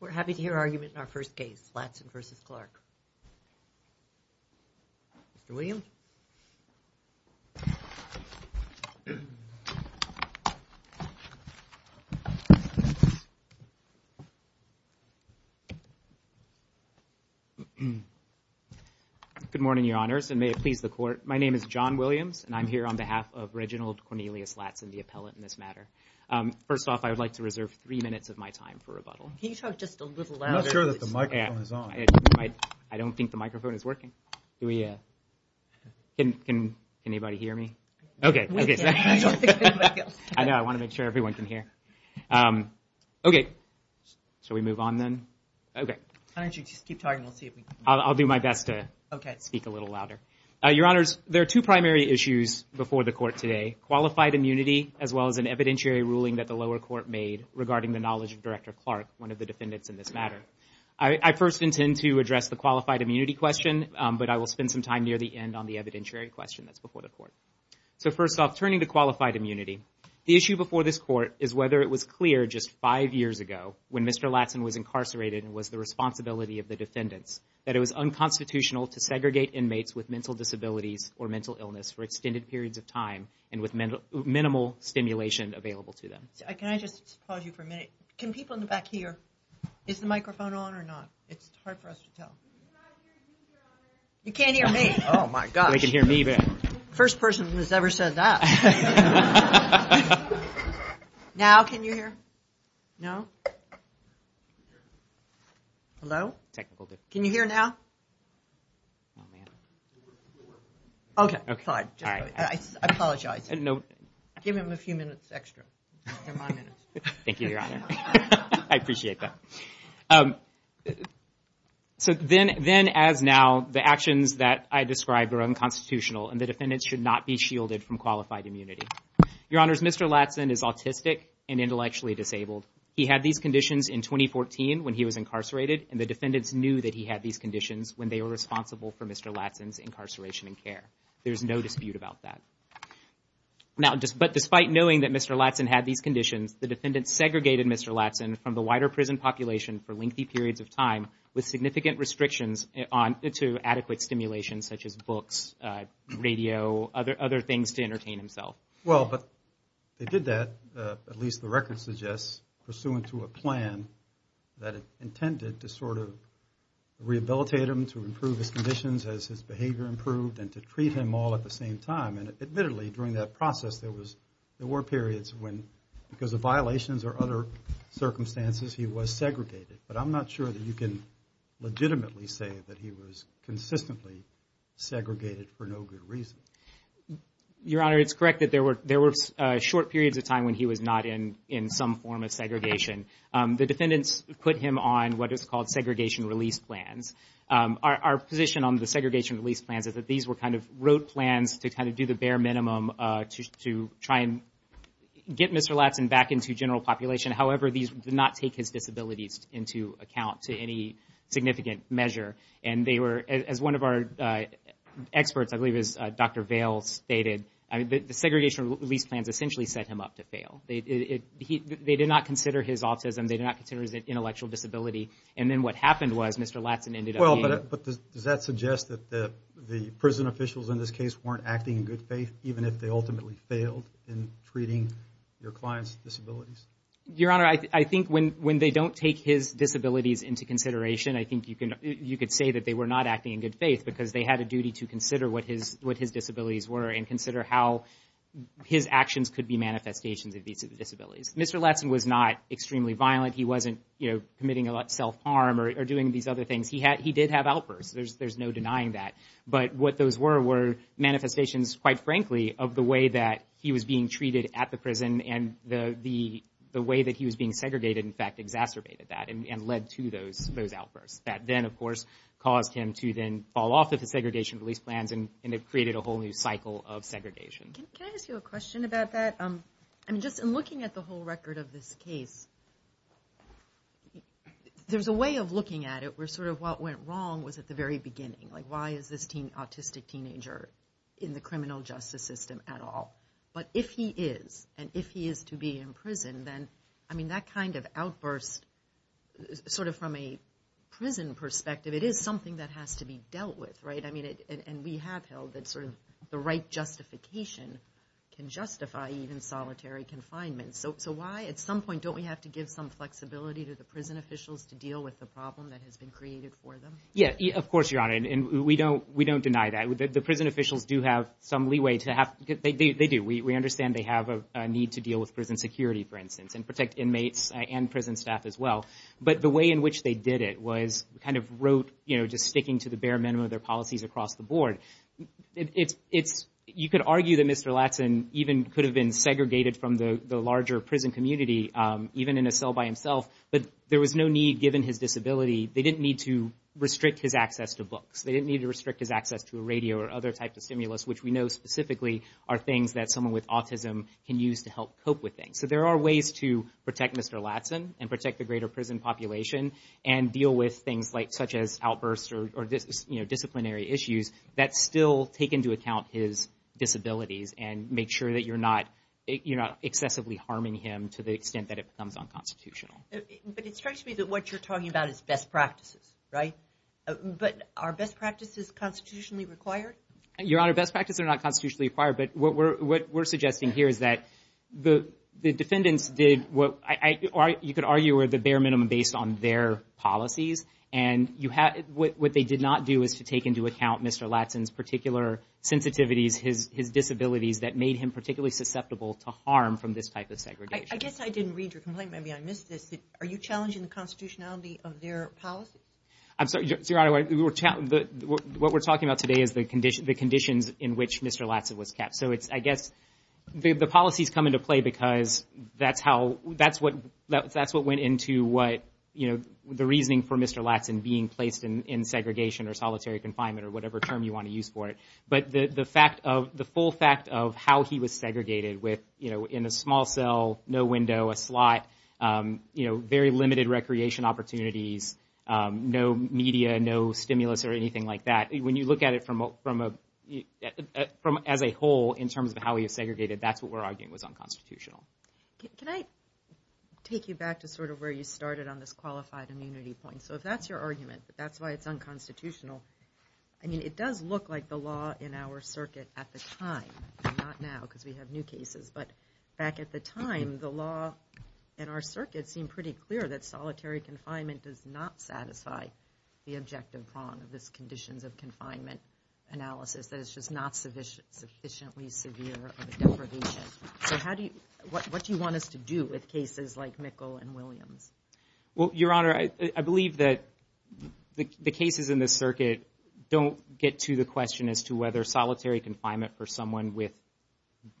We're happy to hear argument in our first case, Latson v. Clarke, Mr. Williams. Good morning, your honors, and may it please the court. My name is John Williams and I'm here on behalf of Reginald Cornelius Latson, the appellant in this matter. First off, I would like to reserve three minutes of my time for rebuttal. I don't think the microphone is working. Can anybody hear me? Okay. I want to make sure everyone can hear. Okay. So we move on then. Okay. I'll do my best to speak a little louder. Your honors, there are two primary issues before the court today, qualified immunity as well as an evidentiary ruling that the lower court made regarding the knowledge of Director Clarke, one of the defendants in this matter. I first intend to address the qualified immunity question, but I will spend some time near the end on the evidentiary question that's before the court. So first off, turning to qualified immunity, the issue before this court is whether it was clear just five years ago when Mr. Latson was incarcerated and was the responsibility of the defendants that it was unconstitutional to segregate inmates with mental disabilities or mental illness for extended periods of time and with minimal stimulation available to them. Can I just pause you for a minute? Can people in the back hear? Is the microphone on or not? It's hard for us to tell. You can't hear me. Oh my gosh. They can hear me. First person who's ever said that. Now can you hear? No? Hello? Can you hear now? Okay, fine. I apologize. Give him a few minutes extra. They're my minutes. Thank you, your honor. I appreciate that. So then as now, the actions that I described are unconstitutional and the defendants should not be shielded from qualified immunity. Your honors, Mr. Latson is autistic and intellectually disabled. He had these conditions in 2014 when he was incarcerated and the defendants knew that he had these conditions when they were responsible for Mr. Latson's incarceration and care. There's no dispute about that. But despite knowing that Mr. Latson had these conditions, the defendants segregated Mr. Latson from the wider prison population for lengthy periods of time with significant restrictions to adequate stimulation such as books, radio, other things to entertain himself. Well, but they did that, at least the record suggests, pursuant to a plan that intended to sort of rehabilitate him to improve his conditions as his behavior improved and to treat him all at the same time. And admittedly, during that process, there were periods when because of violations or other circumstances, he was segregated. But I'm not sure that you can legitimately say that he was consistently segregated for no good reason. Your honor, it's correct that there were short periods of time when he was not in some form of segregation. The defendants put him on what is called segregation release plans. Our position on the segregation release plans is that these were kind of rote plans to kind of do the bare minimum to try and get Mr. Latson back into general population. However, these did not take his disabilities into account to any significant measure. And they were, as one of our experts, I believe it was Dr. Vail, stated, the segregation release plans essentially set him up to fail. They did not consider his autism, they did not consider his intellectual disability. And then what happened was Mr. Latson ended up being... Well, but does that suggest that the prison officials in this case weren't acting in good faith, even if they ultimately failed in treating your client's disabilities? Your honor, I think when they don't take his disabilities into consideration, I think you could say that they were not acting in good faith because they had a duty to consider what his disabilities were and consider how his actions could be manifestations of these disabilities. Mr. Latson was not extremely violent. He wasn't committing a lot of self-harm or doing these other things. He did have outbursts. There's no denying that. But what those were were manifestations, quite frankly, of the way that he was being treated at the prison and the way that he was being segregated, in fact, exacerbated that and led to those outbursts. That then, of course, caused him to then fall off of the segregation release plans and it created a whole new cycle of segregation. Can I ask you a question about that? I mean, just in looking at the whole record of this case, there's a way of looking at it where sort of what went wrong was at the very beginning. Like, why is this autistic teenager in the criminal justice system at all? But if he is, and if he is to be in prison, then, I mean, that kind of outburst, sort of from a prison perspective, it is something that has to be dealt with, right? I mean, and we have held that sort of the right justification can justify even solitary confinement. So why at some point don't we have to give some flexibility to the prison officials to deal with the problem that has been created for them? Yeah, of course, Your Honor. And we don't deny that. The prison officials do have some need to deal with prison security, for instance, and protect inmates and prison staff as well. But the way in which they did it was kind of wrote, you know, just sticking to the bare minimum of their policies across the board. It's, you could argue that Mr. Latson even could have been segregated from the larger prison community, even in a cell by himself, but there was no need given his disability. They didn't need to restrict his access to books. They didn't need to restrict his access to a radio or other type of stimulus, which we know specifically are things that someone with autism can use to help cope with things. So there are ways to protect Mr. Latson and protect the greater prison population and deal with things like, such as outbursts or disciplinary issues that still take into account his disabilities and make sure that you're not excessively harming him to the extent that it becomes unconstitutional. But it strikes me that what you're talking about is best practices, right? But are best practices constitutionally required? Your Honor, best practices are not constitutionally required. But what we're, what we're suggesting here is that the, the defendants did what I, you could argue were the bare minimum based on their policies. And you have, what they did not do is to take into account Mr. Latson's particular sensitivities, his, his disabilities that made him particularly susceptible to harm from this type of segregation. I guess I didn't read your complaint. Maybe I missed this. Are you challenging the constitutionality of their policy? I'm sorry, Your Honor, what we're, what we're talking about today is the condition, the conditions in which Mr. Latson was kept. So it's, I guess the, the policies come into play because that's how, that's what, that's what went into what, you know, the reasoning for Mr. Latson being placed in, in segregation or solitary confinement or whatever term you want to use for it. But the, the fact of, the full fact of how he was segregated with, you know, in a small cell, no window, a slot, you know, very limited recreation opportunities, no media, no stimulus or anything like that. When you look at it from a, from a, from as a whole in terms of how he was segregated, that's what we're arguing was unconstitutional. Can I take you back to sort of where you started on this qualified immunity point? So if that's your argument, that's why it's unconstitutional. I mean, it does look like the law in our circuit at the time, not now because we have new cases, but back at the time, the law in our circuit seemed pretty clear that solitary confinement does not satisfy the objective prong of this conditions of confinement analysis. That it's just not sufficient, sufficiently severe of a deprivation. So how do you, what, what do you want us to do with cases like Mickle and Williams? Well, Your Honor, I, I believe that the, the cases in this circuit don't get to the question as to whether solitary confinement for someone with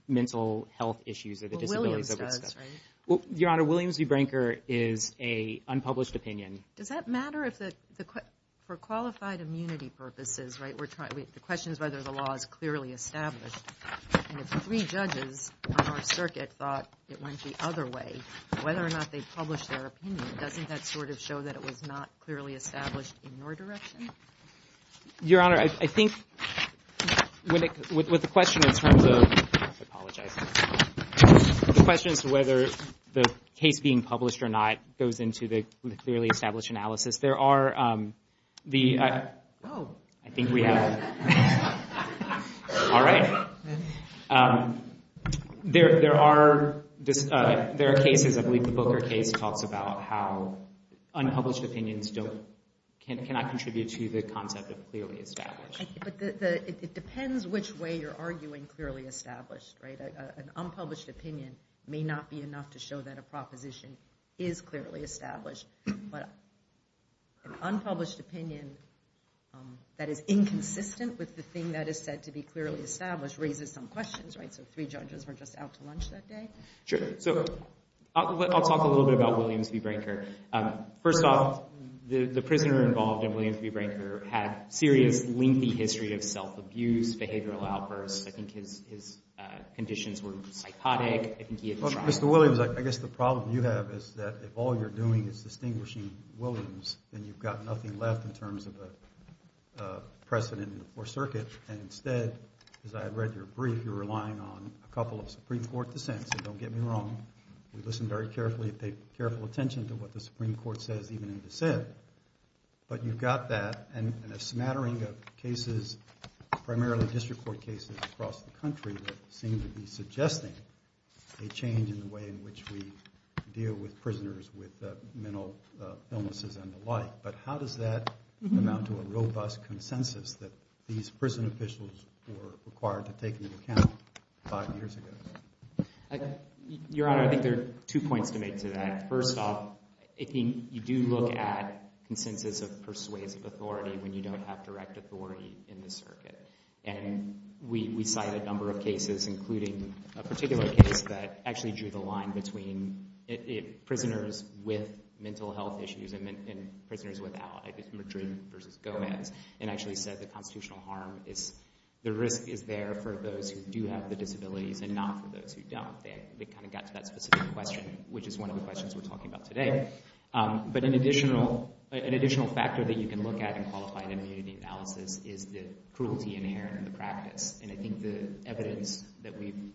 mental health issues or the disabilities of this type. Well, Williams does, right? Well, Your Honor, Williams v. Brinker is a unpublished opinion. Does that matter if the, the, for qualified immunity purposes, right, we're trying, the question is whether the law is clearly established. And if three judges on our circuit thought it went the other way, whether or not they published their opinion, doesn't that sort of show that it was not clearly established in your direction? Your Honor, I think when it, with, with the question in terms of, I apologize, the question is whether the case being published or not goes into the clearly established analysis. There are, um, the, I, I think we have, all right. Um, there, there are, there are cases, I believe the Booker case talks about how unpublished opinions don't, cannot contribute to the concept of clearly established. But the, the, it depends which way you're arguing clearly established, right? An unpublished opinion may not be enough to show that a proposition is clearly established, but an unpublished opinion, um, that is inconsistent with the thing that is said to be clearly established raises some questions, right? So three judges were just out to lunch that day. Sure. So I'll talk a little bit about Williams v. Brinker. Um, first off, the, the prisoner involved in Williams v. Brinker had a serious, lengthy history of self-abuse, behavioral outbursts. I think his, his, uh, conditions were psychotic. I think he had a child. Well, Mr. Williams, I, I guess the problem you have is that if all you're doing is distinguishing Williams, then you've got nothing left in terms of a, a precedent in the Fourth Circuit. And instead, as I had read your brief, you're relying on a couple of Supreme Court dissents. And don't get me wrong, we listened very carefully, paid careful attention to what the Supreme Court said. But you've got that, and, and a smattering of cases, primarily district court cases across the country, that seem to be suggesting a change in the way in which we deal with prisoners with, uh, mental, uh, illnesses and the like. But how does that amount to a robust consensus that these prison officials were required to take into account five years ago? Uh, Your Honor, I think there are two points to make to that. First off, if you, you do look at consensus of persuasive authority when you don't have direct authority in the circuit. And we, we cite a number of cases, including a particular case that actually drew the line between, it, it, prisoners with mental health issues and, and prisoners without. I think it's Madrid versus Gomez. And actually said the constitutional harm is, the risk is there for those who do have the disabilities and not for those who don't. They, they kind of got to that specific question, which is one of the questions we're talking about today. Um, but an additional, an additional factor that you can look at in qualified immunity analysis is the cruelty inherent in the practice. And I think the evidence that we've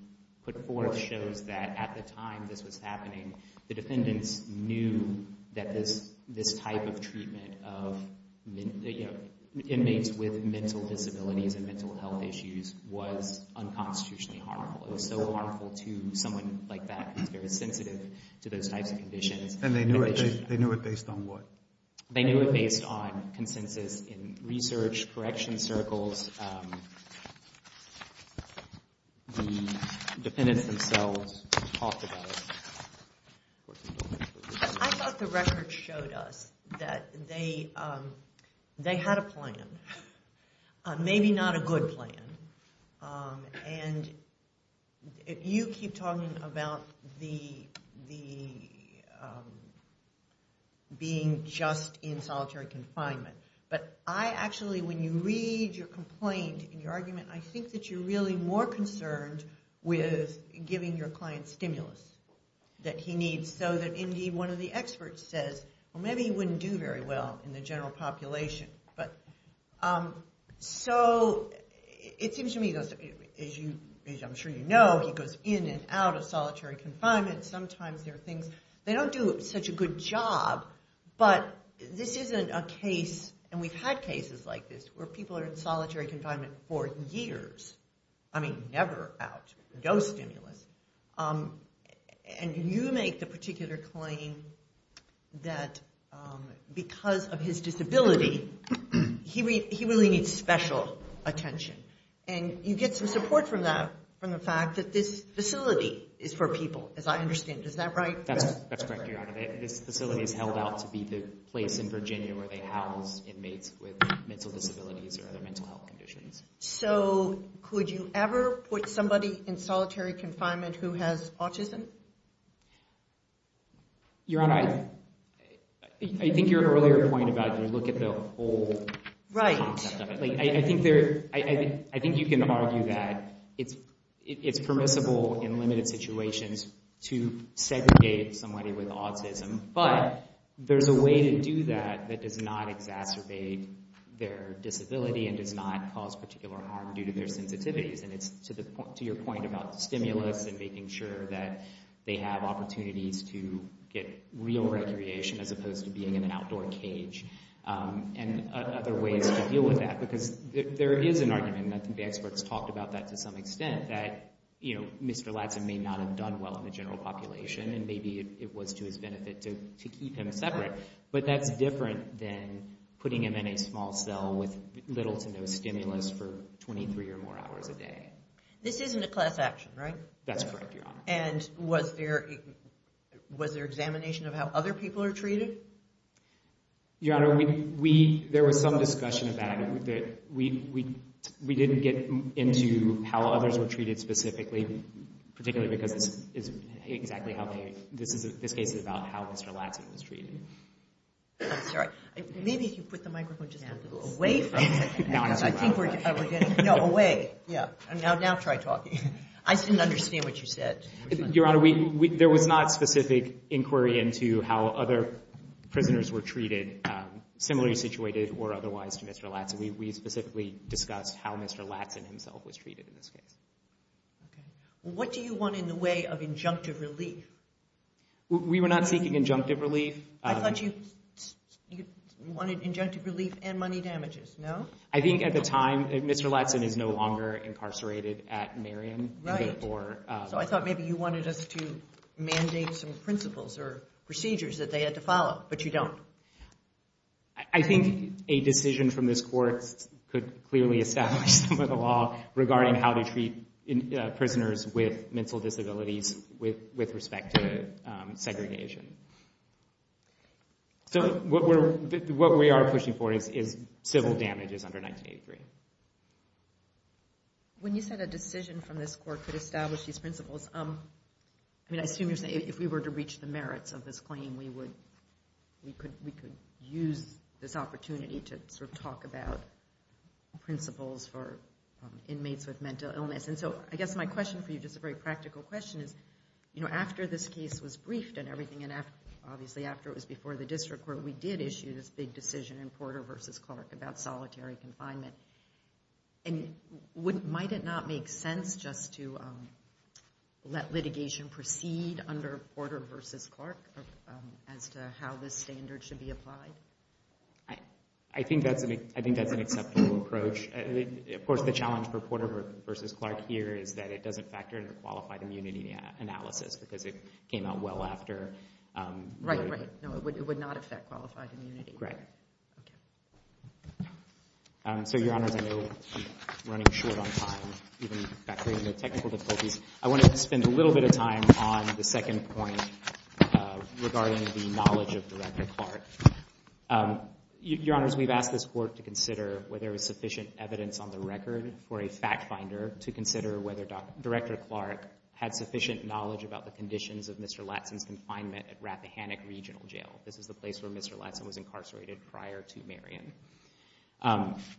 put forth shows that at the time this was happening, the defendants knew that this, this type of treatment of, you know, inmates with mental disabilities and mental health issues was unconstitutionally harmful. It was so harmful to someone like that who's very sensitive to those types of conditions. And they knew it, they, they knew it based on what? They knew it based on consensus in research, correction circles, um, the defendants themselves talked about it. I thought the record showed us that they, um, they had a plan. Maybe not a good plan. Um, and you keep talking about the, the, um, being just in solitary confinement. But I actually, when you read your complaint and your argument, I think that you're really more concerned with giving your client stimulus that he needs so that indeed one of the experts says, well, maybe he wouldn't do very well in the general population. But, um, so it seems to me, as you, as I'm sure you know, he goes in and out of solitary confinement. Sometimes there are things, they don't do such a good job, but this isn't a case, and we've had cases like this, where people are in solitary confinement for years. I mean, never out. No stimulus. Um, and you make the particular claim that, um, because of his disability, he really, he really needs special attention. And you get some support from that, from the fact that this facility is for people, as I understand. Is that right? That's, that's correct, Your Honor. This facility is held out to be the place in Virginia where they house inmates with mental disabilities or other mental health conditions. So, could you ever put somebody in solitary confinement who has autism? Your Honor, I, I think your earlier point about, you know, look at the whole concept of it. Like, I think there, I think you can argue that it's, it's permissible in limited situations to segregate somebody with autism, but there's a way to do that that does not exacerbate their disability and does not cause particular harm due to their sensitivities. And it's to the point, to your point about stimulus and making sure that they have opportunities to get real recreation as opposed to being in an outdoor cage, um, and other ways to deal with that. Because there is an argument, and I think the experts talked about that to some general population, and maybe it was to his benefit to keep him separate. But that's different than putting him in a small cell with little to no stimulus for 23 or more hours a day. This isn't a class action, right? That's correct, Your Honor. And was there, was there examination of how other people are treated? Your Honor, we, we, there was some discussion about it that we, we, we didn't get into how others were treated specifically, particularly because it's, it's exactly how they, this is, this case is about how Mr. Latson was treated. I'm sorry. Maybe if you put the microphone just a little away from me, because I think we're getting, no, away. Yeah. Now, now try talking. I didn't understand what you said. Your Honor, we, we, there was not specific inquiry into how other prisoners were treated, similarly situated or otherwise to Mr. Latson. We, we specifically discussed how Mr. Latson was treated in this case. Okay. Well, what do you want in the way of injunctive relief? We were not seeking injunctive relief. I thought you, you wanted injunctive relief and money damages, no? I think at the time, Mr. Latson is no longer incarcerated at Marion. Right. So I thought maybe you wanted us to mandate some principles or procedures that they had to follow, but you don't. I think a decision from this court could clearly establish some of the law regarding how to treat prisoners with mental disabilities with, with respect to segregation. So what we're, what we are pushing for is, is civil damages under 1983. When you said a decision from this court could establish these principles, I mean, I assume if we were to reach the merits of this claim, we would, we could, we could use this opportunity to sort of talk about principles for inmates with mental illness. And so I guess my question for you, just a very practical question is, you know, after this case was briefed and everything, and obviously after it was before the district court, we did issue this big decision in Porter v. Clark about solitary confinement. And would, might it not make sense just to let litigation proceed under Porter v. Clark as to how this standard should be applied? I, I think that's an, I think that's an acceptable approach. Of course, the challenge for Porter v. Clark here is that it doesn't factor into qualified immunity analysis because it came out well after. Right, right. No, it would not affect qualified immunity. Right. So, Your Honors, I know we're running short on time, even factoring in the technical difficulties. I wanted to spend a little bit of time on the second point regarding the knowledge of Director Clark. Your Honors, we've asked this court to consider whether there was sufficient evidence on the record for a fact finder to consider whether Director Clark had sufficient knowledge about the conditions of Mr. Latson's confinement at Rappahannock Regional Jail. This is the place where Mr. Latson was incarcerated prior to Marion.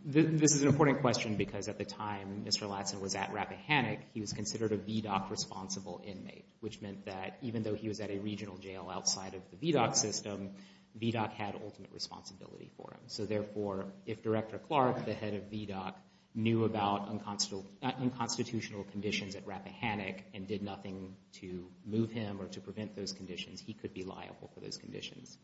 This is an important question because at the time Mr. Latson was at Rappahannock, he was considered a VDOC-responsible inmate, which meant that even though he was at a regional jail outside of the VDOC system, VDOC had ultimate responsibility for him. So, therefore, if Director Clark, the head of VDOC, knew about unconstitutional, unconstitutional conditions at Rappahannock and did nothing to move him or to prevent those conditions, he could be liable for those conditions.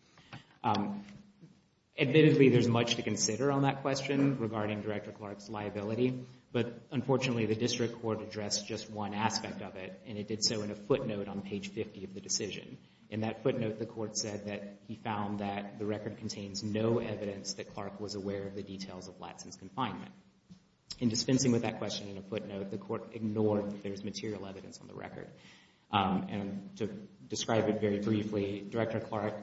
Admittedly, there's much to consider on that question regarding Director Clark's liability, but unfortunately, the district court addressed just one aspect of it, and it did so in a footnote on page 50 of the decision. In that footnote, the court said that he found that the record contains no evidence that Clark was aware of the details of Latson's confinement. In dispensing with that question in a footnote, the court ignored that there's material evidence on the record. And to describe it very briefly, Director Clark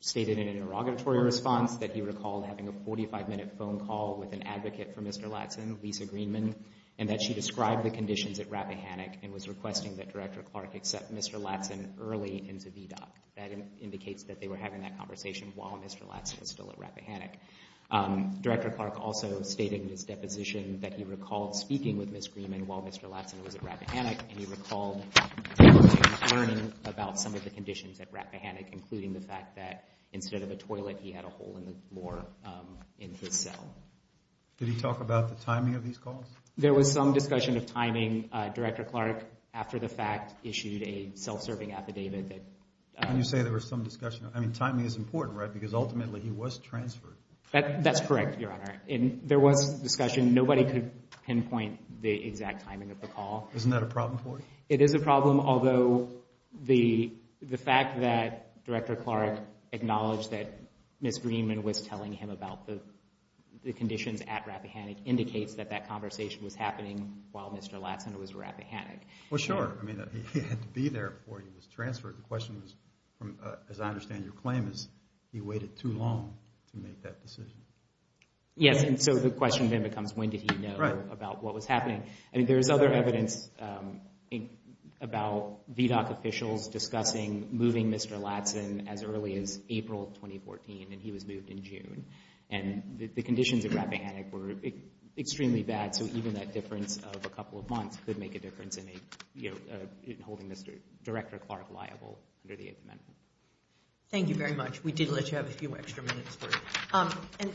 stated in an interrogatory response that he recalled having a 45-minute phone call with an advocate for Mr. Latson, Lisa Greenman, and that she described the conditions at Rappahannock and was requesting that Director Clark accept Mr. Latson early into VDOC. That indicates that they were having that conversation while Mr. Latson was still at Rappahannock. Director Clark also stated in his deposition that he recalled speaking with Ms. Greenman while Mr. Latson was at Rappahannock, and he recalled learning about some of the conditions at Rappahannock, including the fact that instead of a toilet, he had a hole in the floor in his cell. Did he talk about the timing of these calls? There was some discussion of timing. Director Clark, after the fact, issued a self-serving affidavit that... When you say there was some discussion, I mean, timing is important, right? Because ultimately, he was transferred. That's correct, Your Honor. There was discussion. Nobody could pinpoint the exact timing of the call. Isn't that a problem for you? It is a problem, although the fact that Director Clark acknowledged that Ms. Greenman was telling him about the conditions at Rappahannock indicates that that conversation was happening while Mr. Latson was at Rappahannock. Well, sure. I mean, he had to be there before he was transferred. The question is, as I understand your claim, is he waited too long to make that decision? Yes, and so the question then becomes, when did he know about what was happening? I mean, there's other evidence about VDOC officials discussing moving Mr. Latson as early as April 2014, and he was moved in June. And the conditions at Rappahannock were extremely bad, so even that difference of a couple of months could make a difference in holding Director Clark liable under the Eighth Amendment. Thank you very much. We did let you have a few extra minutes. And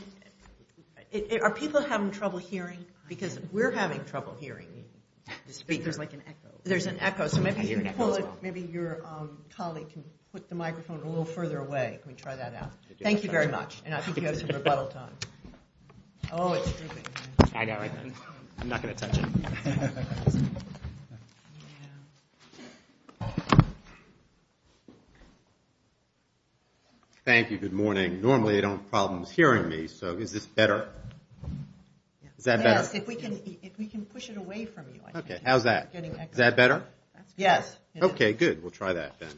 are people having trouble hearing? Because we're having trouble hearing the speakers. There's like an echo. There's an echo, so maybe you can pull it. Maybe your colleague can put the microphone a little further away. Can we try that out? Thank you very much. And I think he has a rebuttal time. Oh, it's dripping. I know. I'm not going to touch it. Thank you. Good morning. Normally, I don't have problems hearing me, so is this better? Is that better? Yes, if we can push it away from you. Okay, how's that? It's getting echoed. Is that better? Yes. Okay, good. We'll try that then.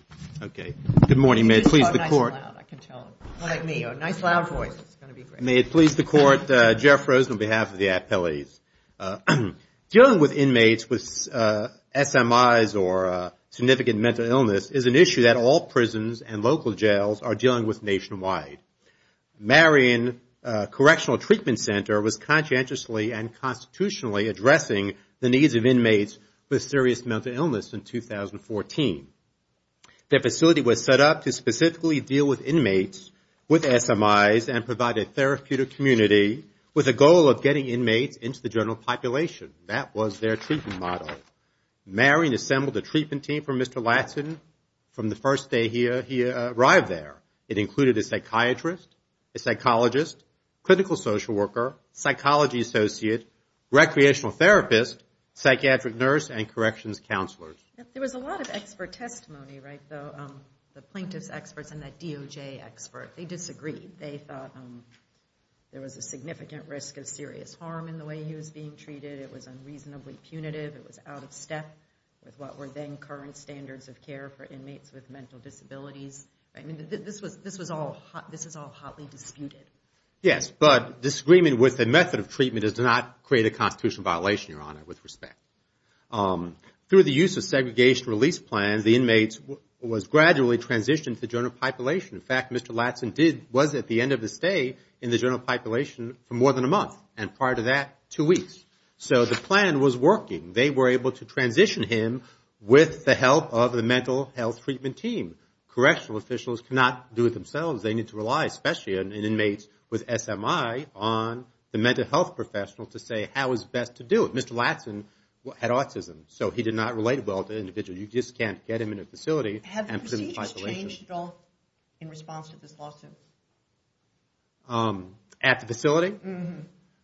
Okay. Good morning. May it please the Court. Oh, nice and loud. I can tell. Like me, a nice loud voice is going to be great. May it please the Court. Jeff Rosen on behalf of the appellees. Dealing with inmates with SMIs or significant mental illness is an issue that all prisons and local jails are dealing with nationwide. Marion Correctional Treatment Center was conscientiously and constitutionally addressing the needs of inmates with serious mental illness in 2014. Their facility was set up to specifically deal with inmates with SMIs and provide a therapeutic community with a goal of getting inmates into the general population. That was their treatment model. Marion assembled a treatment team for Mr. Latson from the first day he arrived there. It included a psychiatrist, a psychologist, clinical social worker, psychology associate, recreational therapist, psychiatric nurse, and corrections counselors. There was a lot of expert testimony, right, the plaintiff's experts and that DOJ expert. They disagreed. They thought there was a significant risk of serious harm in the way he was being treated. It was unreasonably punitive. It was out of step with what were then current standards of care for inmates with mental disabilities. I mean, this was all hotly disputed. Yes, but disagreement with the method of treatment does not create a constitutional violation, Your Honor, with respect. Through the use of segregation release plans, the inmates was gradually transitioned to the general population. In fact, Mr. Latson was at the end of his stay in the general population for more than a month and prior to that, two weeks. So the plan was working. They were able to transition him with the help of the mental health treatment team. Correctional officials cannot do it themselves. They need to rely, especially in inmates with SMI, on the mental health professional to say how is best to do it. Mr. Latson had autism. So he did not relate well to individuals. You just can't get him in a facility and put him in isolation. At the facility?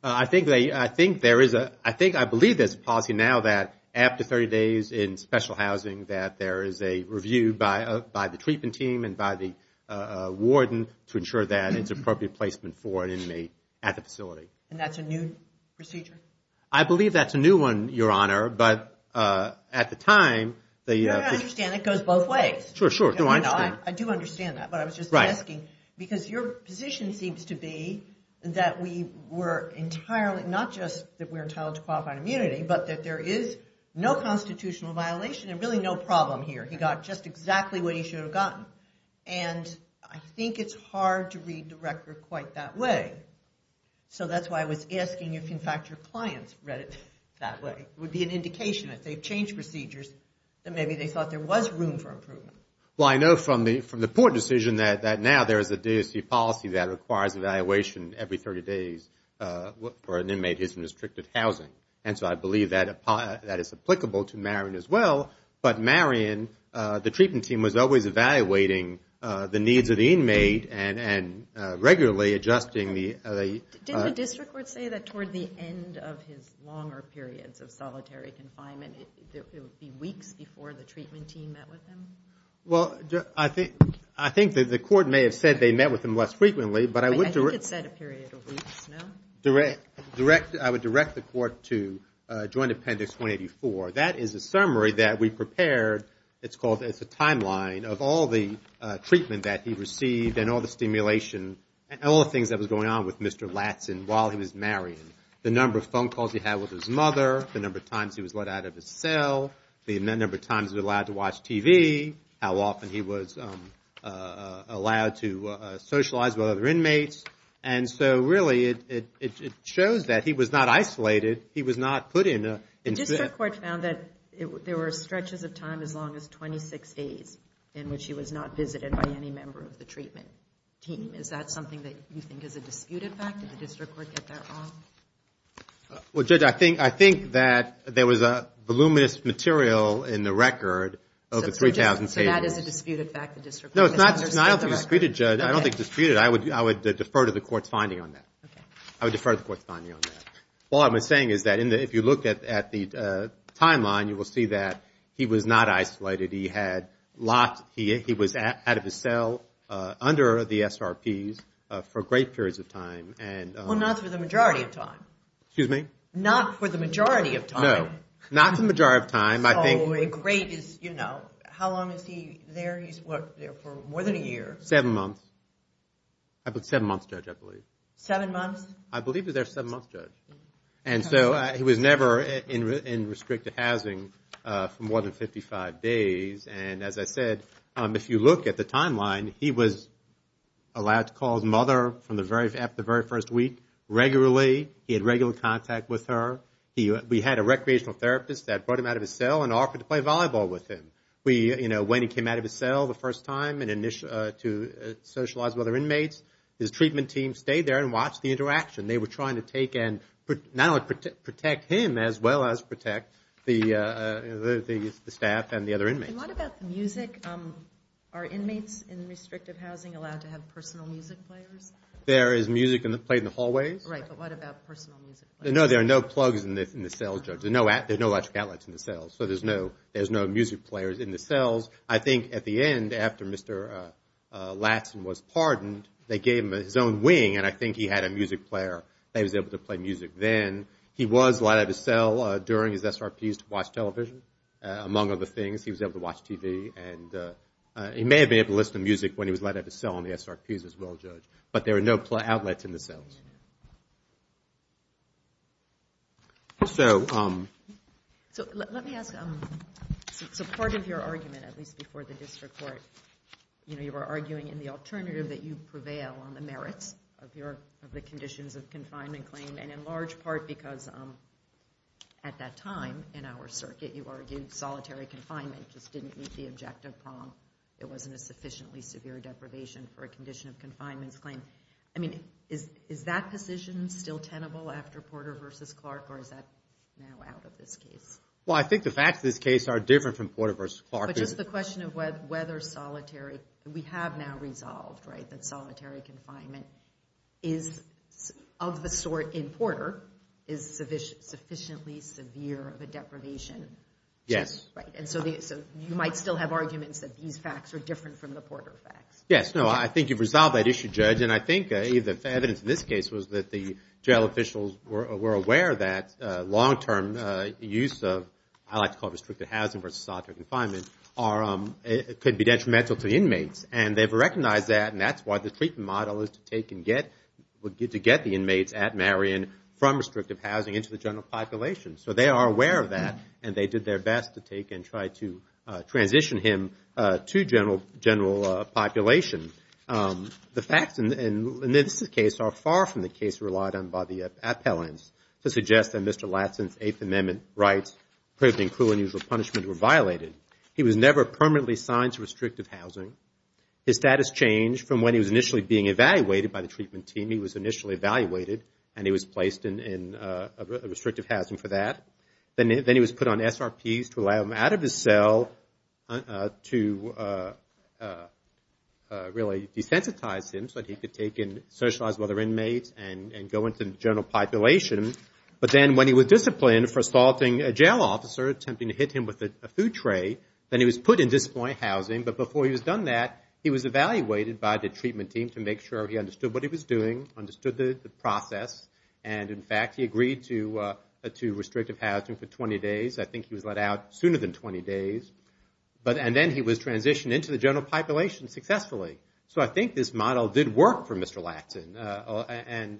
I think I believe there's a policy now that after 30 days in special housing that there is a review by the treatment team and by the warden to ensure that it's appropriate placement for an inmate at the facility. And that's a new procedure? I believe that's a new one, Your Honor. But at the time... You don't understand. It goes both ways. Sure, sure. No, I understand. I do understand that, but I was just asking. Because your position seems to be that we were entirely... Not just that we're entitled to qualified immunity, but that there is no constitutional violation and really no problem here. He got just exactly what he should have gotten. And I think it's hard to read the record quite that way. So that's why I was asking if, in fact, your clients read it that way. It would be an indication, if they've changed procedures, that maybe they thought there was room for improvement. Well, I know from the Port decision that now there is a policy that requires evaluation every 30 days for an inmate who's in restricted housing. And so I believe that is applicable to Marion as well. But Marion, the treatment team was always evaluating the needs of the inmate and regularly adjusting the... Didn't the district court say that toward the end of his longer periods of solitary confinement, it would be weeks before the treatment team met with him? Well, I think that the court may have said they met with him less frequently, but I would direct... I think it said a period of weeks, no? I would direct the court to Joint Appendix 284. That is a summary that we prepared. It's called... It's a timeline of all the treatment that he received and all the stimulation and all the things that was going on with Mr. Latson while he was marrying. The number of phone calls he had with his mother, the number of times he was let out of his cell, the number of times he was allowed to watch TV, how often he was allowed to socialize with other inmates. And so really, it shows that he was not isolated. He was not put in a... The district court found that there were stretches of time as long as 26 days in which he was not visited by any member of the treatment team. Is that something that you think is a disputed fact? Did the district court get that wrong? Well, Judge, I think that there was a voluminous material in the record of the 3,000... So that is a disputed fact, the district court misunderstood the record? No, it's not disputed, Judge. I don't think it's disputed. I would defer to the court's finding on that. Okay. I would defer to the court's finding on that. All I'm saying is that if you look at the timeline, you will see that he was not isolated. He had locked... He was out of his cell under the SRPs for great periods of time and... Excuse me? Not for the majority of time. No, not the majority of time. So a great is, you know... How long is he there? He's worked there for more than a year. Seven months. Seven months, Judge, I believe. Seven months? I believe he was there seven months, Judge. And so he was never in restricted housing for more than 55 days. And as I said, if you look at the timeline, he was allowed to call his mother from the very first week regularly. He had regular contact with her. We had a recreational therapist that brought him out of his cell and offered to play volleyball with him. We, you know, when he came out of his cell the first time to socialize with other inmates, his treatment team stayed there and watched the interaction. They were trying to take and not only protect him as well as protect the staff and the other inmates. And what about the music? Are inmates in restrictive housing allowed to have personal music players? There is music played in the hallways. Right, but what about personal music players? No, there are no plugs in the cells, Judge. There are no electric outlets in the cells. So there's no music players in the cells. I think at the end, after Mr. Latson was pardoned, they gave him his own wing and I think he had a music player that he was able to play music then. He was allowed out of his cell during his SRPs to watch television, among other things. He was able to watch TV. And he may have been able to listen to music when he was allowed out of his cell on the SRPs as well, Judge. But there are no outlets in the cells. So let me ask, so part of your argument, at least before the district court, you were arguing in the alternative that you prevail on the merits of the conditions of confinement claim and in large part because at that time in our circuit, you argued solitary confinement just didn't meet the objective prong. It wasn't a sufficiently severe deprivation for a condition of confinement claim. I mean, is that position still tenable after Porter v. Clark or is that now out of this case? Well, I think the facts of this case are different from Porter v. Clark. But just the question of whether solitary, we have now resolved, right, that solitary confinement is of the sort in Porter is sufficiently severe of a deprivation. Yes. And so you might still have arguments that these facts are different from the Porter facts. Yes. No, I think you've resolved that issue, Judge. And I think the evidence in this case was that the jail officials were aware that long term use of, I like to call it restrictive housing versus solitary confinement, could be detrimental to inmates. And they've recognized that. And that's why the treatment model is to take and get, to get the inmates at Marion from restrictive housing into the general population. So they are aware of that. And they did their best to take and try to transition him to general population. The facts in this case are far from the case relied on by the appellants to suggest that Mr. Latson's Eighth Amendment rights, proven in cruel and unusual punishment, were violated. He was never permanently signed to restrictive housing. His status changed from when he was initially being evaluated by the treatment team. He was initially evaluated. And he was placed in restrictive housing for that. Then he was put on SRPs to allow him out of his cell to really desensitize him so that he could take in socialized other inmates and go into the general population. But then when he was disciplined for assaulting a jail officer, attempting to hit him with a food tray, then he was put in disciplined housing. But before he was done that, he was evaluated by the treatment team to make sure he understood what he was doing, understood the process. And, in fact, he agreed to restrictive housing for 20 days. I think he was let out sooner than 20 days. And then he was transitioned into the general population successfully. So I think this model did work for Mr. Latson. And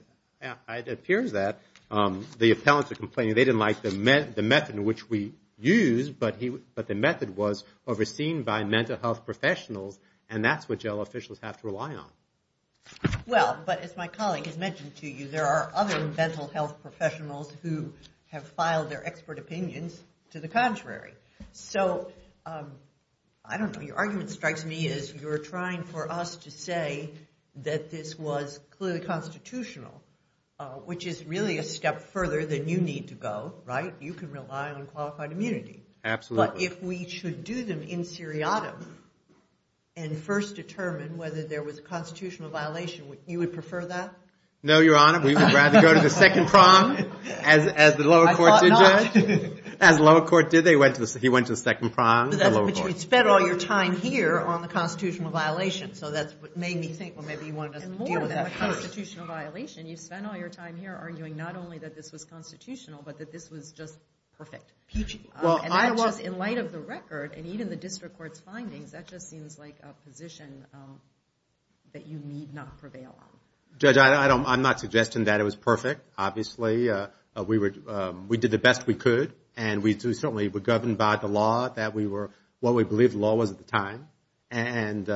it appears that the appellants are complaining they didn't like the method in which we used, but the method was overseen by mental health professionals. And that's what jail officials have to rely on. Well, but as my colleague has mentioned to you, there are other mental health professionals who have filed their expert opinions to the contrary. So I don't know. Your argument strikes me as you're trying for us to say that this was clearly constitutional, which is really a step further than you need to go, right? You can rely on qualified immunity. Absolutely. If we should do them in seriatim and first determine whether there was a constitutional violation, you would prefer that? No, Your Honor. We would rather go to the second prong, as the lower court did, Judge. As the lower court did, he went to the second prong, the lower court. But you spent all your time here on the constitutional violation. So that's what made me think, well, maybe you wanted us to deal with that first. And more than a constitutional violation, you spent all your time here arguing not only that this was constitutional, but that this was just perfect. And that just, in light of the record, and even the district court's findings, that just seems like a position that you need not prevail on. Judge, I'm not suggesting that it was perfect. Obviously, we did the best we could. And we certainly were governed by the law that we were, what we believed the law was at the time. But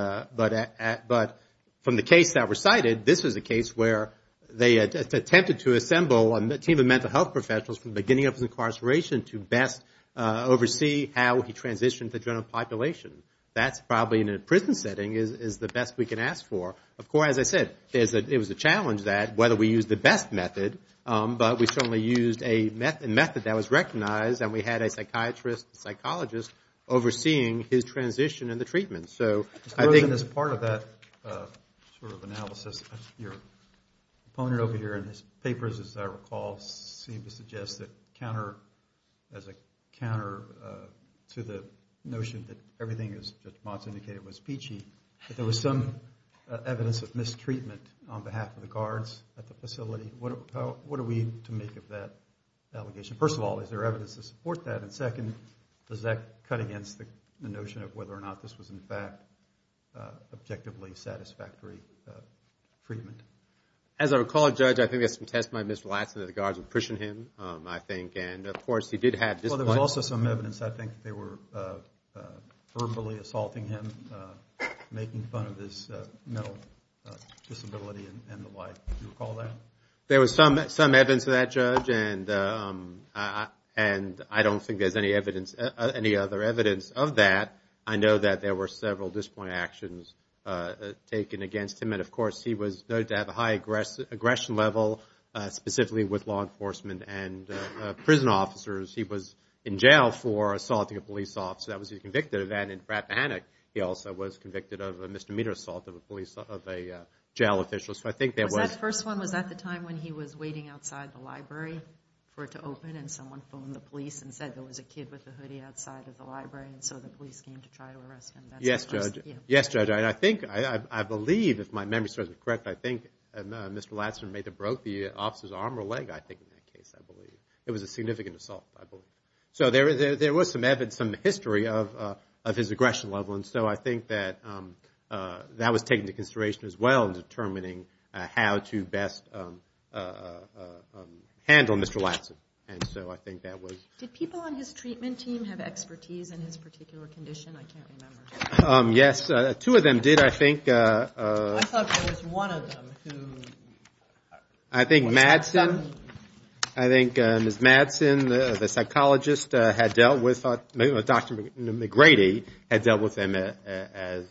from the case that recited, this was a case where they attempted to assemble a team of mental health professionals from the beginning of his incarceration to best oversee how he transitioned the general population. That's probably, in a prison setting, is the best we can ask for. Of course, as I said, it was a challenge that whether we used the best method. But we certainly used a method that was recognized. And we had a psychiatrist, a psychologist, overseeing his transition and the treatment. So I think— Mr. Rosen, as part of that sort of analysis, your opponent over here in his papers, as seemed to suggest that counter, as a counter to the notion that everything, as Judge Motz indicated, was peachy, that there was some evidence of mistreatment on behalf of the guards at the facility. What are we to make of that allegation? First of all, is there evidence to support that? And second, does that cut against the notion of whether or not this was, in fact, objectively satisfactory treatment? As I recall, Judge, I think there's some testimony of Mr. Latson that the guards were pushing him, I think. And, of course, he did have— Well, there was also some evidence, I think, that they were verbally assaulting him, making fun of his mental disability and the like. Do you recall that? There was some evidence of that, Judge. And I don't think there's any evidence, any other evidence of that. I know that there were several disappointing actions taken against him. And, of course, he was noted to have a high aggression level, specifically with law enforcement and prison officers. He was in jail for assaulting a police officer. That was his convicted event. And in Rappahannock, he also was convicted of a misdemeanor assault of a jail official. So I think there was— Was that the first one? Was that the time when he was waiting outside the library for it to open and someone phoned the police and said there was a kid with a hoodie outside of the library, and so the police came to try to arrest him? Yes, Judge. Yes, Judge. And I think, I believe, if my memory serves me correct, I think Mr. Latson may have broke the officer's arm or leg, I think, in that case, I believe. It was a significant assault, I believe. So there was some evidence, some history of his aggression level. And so I think that that was taken into consideration as well in determining how to best handle Mr. Latson. And so I think that was— Did people on his treatment team have expertise in his particular condition? I can't remember. Yes, two of them did, I think. I thought there was one of them who— I think Madsen, I think Ms. Madsen, the psychologist, had dealt with—Dr. McGrady had dealt with him as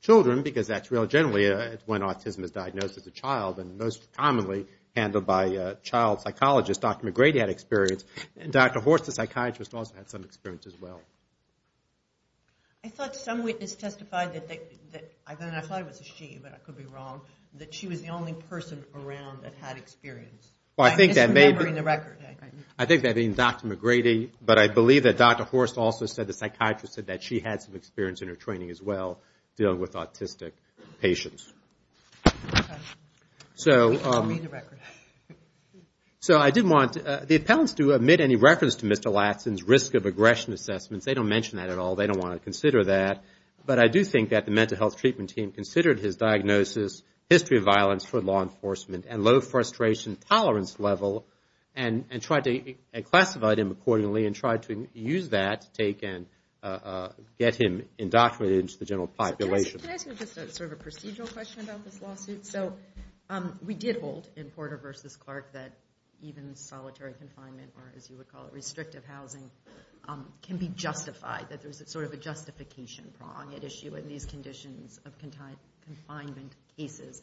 children, because that's really generally when autism is diagnosed as a child, and most commonly handled by a child psychologist. Dr. McGrady had experience. And Dr. Horst, the psychiatrist, also had some experience as well. I thought some witness testified that—I thought it was a she, but I could be wrong—that she was the only person around that had experience. I'm just remembering the record. I think that being Dr. McGrady, but I believe that Dr. Horst also said, the psychiatrist said that she had some experience in her training as well, dealing with autistic patients. We can't read the record. So I did want the appellants to omit any reference to Mr. Latson's risk of aggression assessments. They don't mention that at all. They don't want to consider that. But I do think that the mental health treatment team considered his diagnosis, history of violence for law enforcement, and low frustration tolerance level, and classified him accordingly and tried to use that to take and get him indoctrinated into the general population. Can I ask you just sort of a procedural question about this lawsuit? So we did hold in Porter v. Clark that even solitary confinement, or as you would call it, restrictive housing, can be justified, that there's sort of a justification prong at issue in these conditions of confinement cases.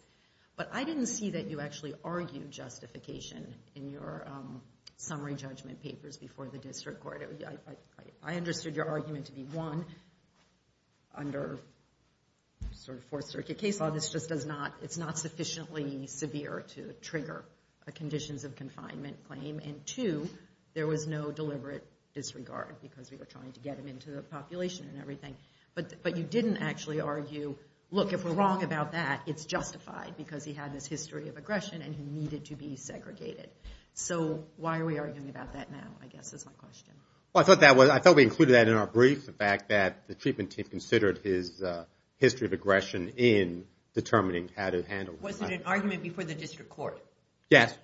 But I didn't see that you actually argued justification in your summary judgment papers before the district court. I understood your argument to be, one, under sort of Fourth Circuit case law, this just does not—it's not sufficiently severe to trigger a conditions of confinement claim. And two, there was no deliberate disregard because we were trying to get him into the population and everything. But you didn't actually argue, look, if we're wrong about that, it's justified because he had this history of aggression and he needed to be segregated. So why are we arguing about that now, I guess, is my question. Well, I thought that was—I thought we included that in our brief, the fact that the treatment team considered his history of aggression in determining how to handle that. Was it an argument before the district court? Yes.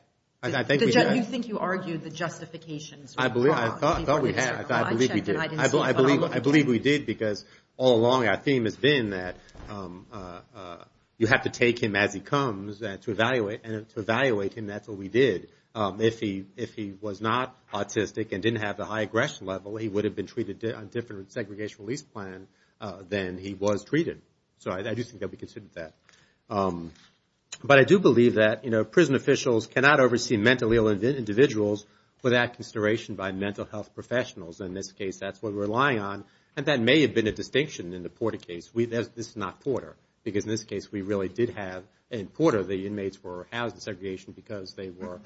Did you think you argued the justifications? I believe—I thought we had. I believe we did because all along our theme has been that you have to take him as he comes to evaluate, and to evaluate him, that's what we did. If he was not autistic and didn't have the high aggression level, he would have been treated on a different segregation release plan than he was treated. So I do think that we considered that. But I do believe that, you know, prison officials cannot oversee mentally ill individuals without consideration by mental health professionals. In this case, that's what we're relying on. And that may have been a distinction in the Porter case. This is not Porter. Because in this case, we really did have—in Porter, the inmates were housed in segregation because they were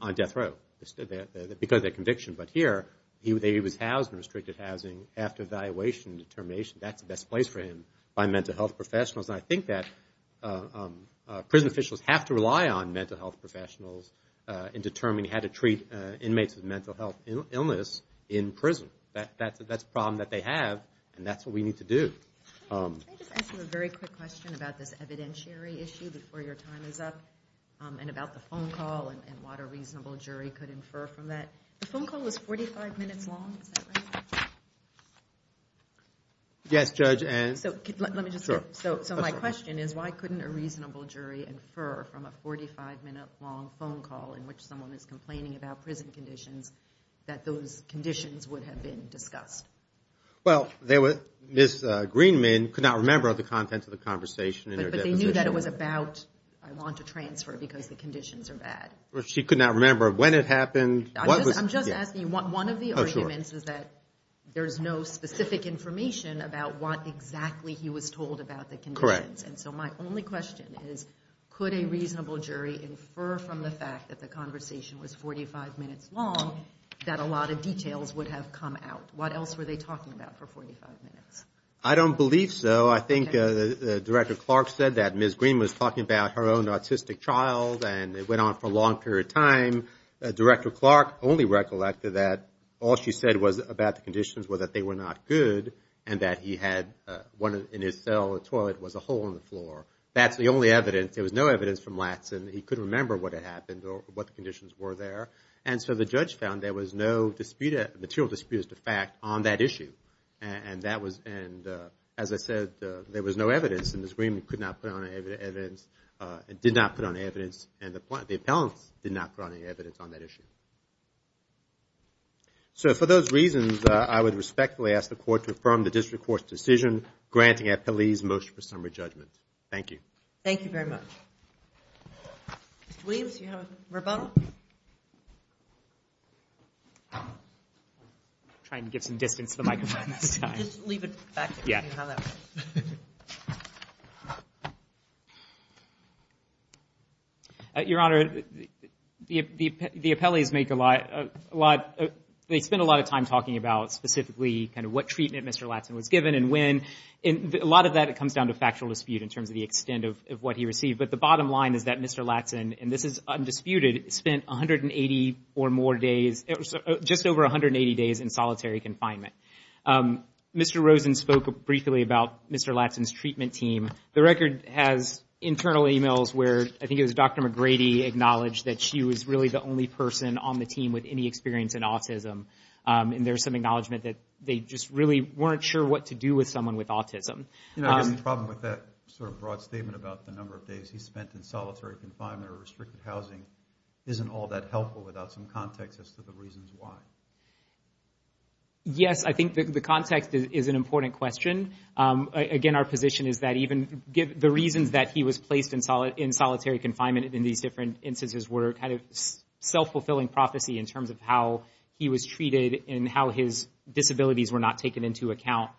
on death row because of their conviction. But here, he was housed in restricted housing after evaluation and determination. That's the best place for him by mental health professionals. And I think that prison officials have to rely on mental health professionals in determining how to treat inmates with mental health illness in prison. That's a problem that they have. And that's what we need to do. Can I just ask you a very quick question about this evidentiary issue before your time is up, and about the phone call, and what a reasonable jury could infer from that? The phone call was 45 minutes long. Is that right? Yes, Judge, and— Let me just— So my question is, why couldn't a reasonable jury infer from a 45-minute-long phone call in which someone is complaining about prison conditions that those conditions would have been discussed? Well, Ms. Greenman could not remember the contents of the conversation in her deposition. But they knew that it was about, I want to transfer because the conditions are bad. She could not remember when it happened, what was— I'm just asking, one of the arguments is that there's no specific information about what exactly he was told about the conditions. And so my only question is, could a reasonable jury infer from the fact that the conversation was 45 minutes long that a lot of details would have come out? What else were they talking about for 45 minutes? I don't believe so. I think Director Clark said that Ms. Greenman was talking about her own autistic child, and it went on for a long period of time. Director Clark only recollected that all she said was about the conditions were that they were not good and that he had one in his cell, a toilet, was a hole in the floor. That's the only evidence. There was no evidence from Latson. He couldn't remember what had happened or what the conditions were there. And so the judge found there was no dispute, material disputes, to fact, on that issue. And that was—and as I said, there was no evidence. And Ms. Greenman could not put on evidence—did not put on evidence, and the appellants did not put on any evidence on that issue. So for those reasons, I would respectfully ask the court to affirm the district court's decision, granting appellees motion for summary judgment. Thank you. Thank you very much. Mr. Williams, do you have a rebuttal? Trying to get some distance to the microphone this time. Just leave it back to me on how that works. Your Honor, the appellees make a lot—they spend a lot of time talking about specifically kind of what treatment Mr. Latson was given and when. And a lot of that comes down to factual dispute in terms of the extent of what he received. But the bottom line is that Mr. Latson—and this is undisputed—spent 180 or more days—just over 180 days in solitary confinement. Mr. Latson's treatment team—the record has internal emails where I think it was Dr. McGrady acknowledged that she was really the only person on the team with any experience in autism. And there's some acknowledgement that they just really weren't sure what to do with someone with autism. You know, I guess the problem with that sort of broad statement about the number of days he spent in solitary confinement or restricted housing isn't all that helpful without some context as to the reasons why. Yes, I think the context is an important question. Again, our position is that even—the reasons that he was placed in solitary confinement in these different instances were kind of self-fulfilling prophecy in terms of how he was treated and how his disabilities were not taken into account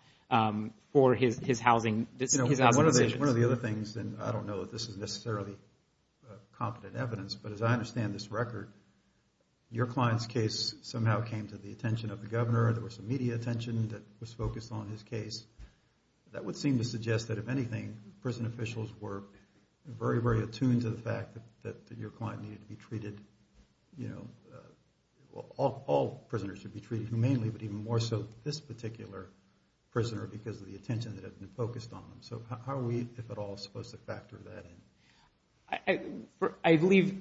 for his housing decisions. You know, one of the other things—and I don't know that this is necessarily competent evidence—but as I understand this record, your client's case somehow came to the attention of the governor. There was some media attention that was focused on his case. That would seem to suggest that, if anything, prison officials were very, very attuned to the fact that your client needed to be treated—you know, all prisoners should be treated humanely, but even more so this particular prisoner because of the attention that had been focused on him. So how are we, if at all, supposed to factor that in? I believe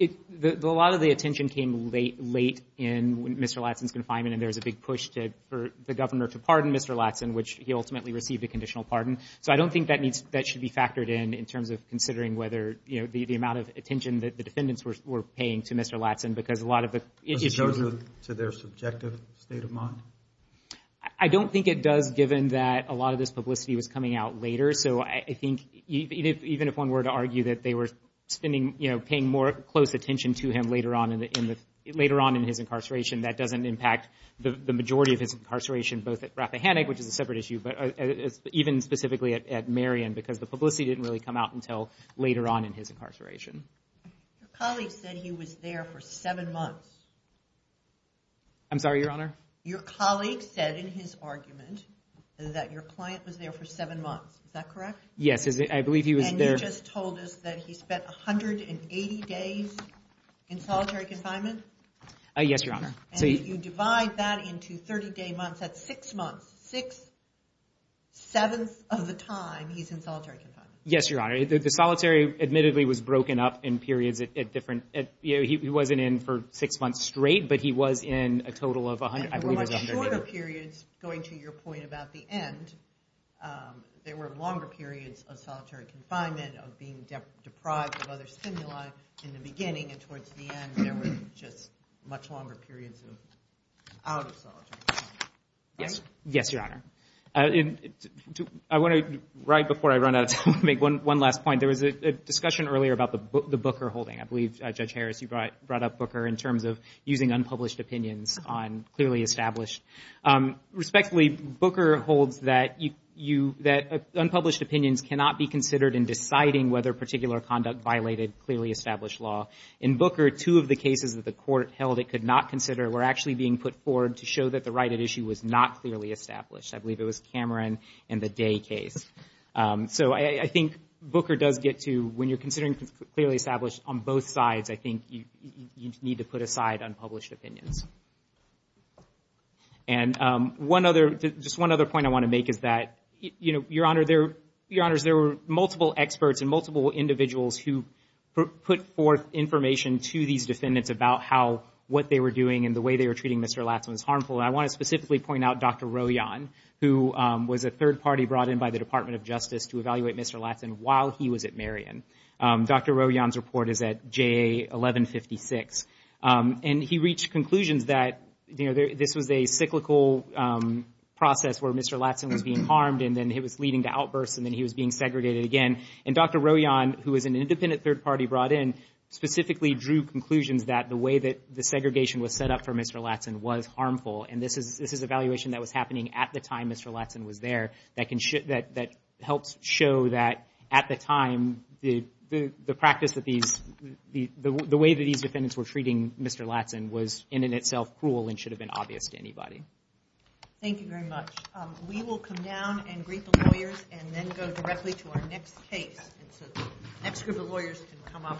a lot of the attention came late in Mr. Ladson's confinement, and there was a big push for the governor to pardon Mr. Ladson, which he ultimately received a conditional pardon. So I don't think that needs—that should be factored in in terms of considering whether, you know, the amount of attention that the defendants were paying to Mr. Ladson because a lot of the— Was it closer to their subjective state of mind? I don't think it does, given that a lot of this publicity was coming out later. So I think even if one were to argue that they were spending—you know, paying more close attention to him later on in the—later on in his incarceration, that doesn't impact the majority of his incarceration, both at Rappahannock, which is a separate issue, but even specifically at Marion because the publicity didn't really come out until later on in his incarceration. Your colleague said he was there for seven months. I'm sorry, Your Honor? Your colleague said in his argument that your client was there for seven months. Is that correct? Yes, I believe he was there— And you just told us that he spent 180 days in solitary confinement? Yes, Your Honor. And if you divide that into 30-day months, that's six months. Six-sevenths of the time, he's in solitary confinement. Yes, Your Honor. The solitary, admittedly, was broken up in periods at different—you know, he wasn't in for six months straight, but he was in a total of 100—I believe it was 100 days. And there were much shorter periods, going to your point about the end. There were longer periods of solitary confinement, of being deprived of other stimuli in the beginning, and towards the end, there were just much longer periods of out of solitary confinement, right? Yes, Your Honor. I want to, right before I run out of time, make one last point. There was a discussion earlier about the Booker holding. I believe, Judge Harris, you brought up Booker in terms of using unpublished opinions on clearly established. Respectfully, Booker holds that unpublished opinions cannot be considered in deciding whether a particular conduct violated clearly established law. In Booker, two of the cases that the court held it could not consider were actually being put forward to show that the right at issue was not clearly established. I believe it was Cameron and the Day case. So, I think Booker does get to, when you're considering clearly established on both sides, I think you need to put aside unpublished opinions. And one other, just one other point I want to make is that, you know, Your Honor, there were multiple experts and multiple individuals who put forth information to these defendants about how, what they were doing and the way they were treating Mr. Latson was harmful. And I want to specifically point out Dr. Rojan, who was a third party brought in by the Department of Justice to evaluate Mr. Latson while he was at Marion. Dr. Rojan's report is at JA 1156. And he reached conclusions that, you know, this was a cyclical process where Mr. Latson was being harmed and then it was leading to outbursts and then he was being segregated again. And Dr. Rojan, who was an independent third party brought in, specifically drew conclusions that the way that the segregation was set up for Mr. Latson was harmful. And this is, this is evaluation that was happening at the time Mr. Latson was there that can show, that helps show that at the time the practice that these, the way that these defendants were treating Mr. Latson was in and itself cruel and should have been obvious to anybody. Thank you very much. We will come down and greet the lawyers and then go directly to our next case. And so the next group of lawyers can come up.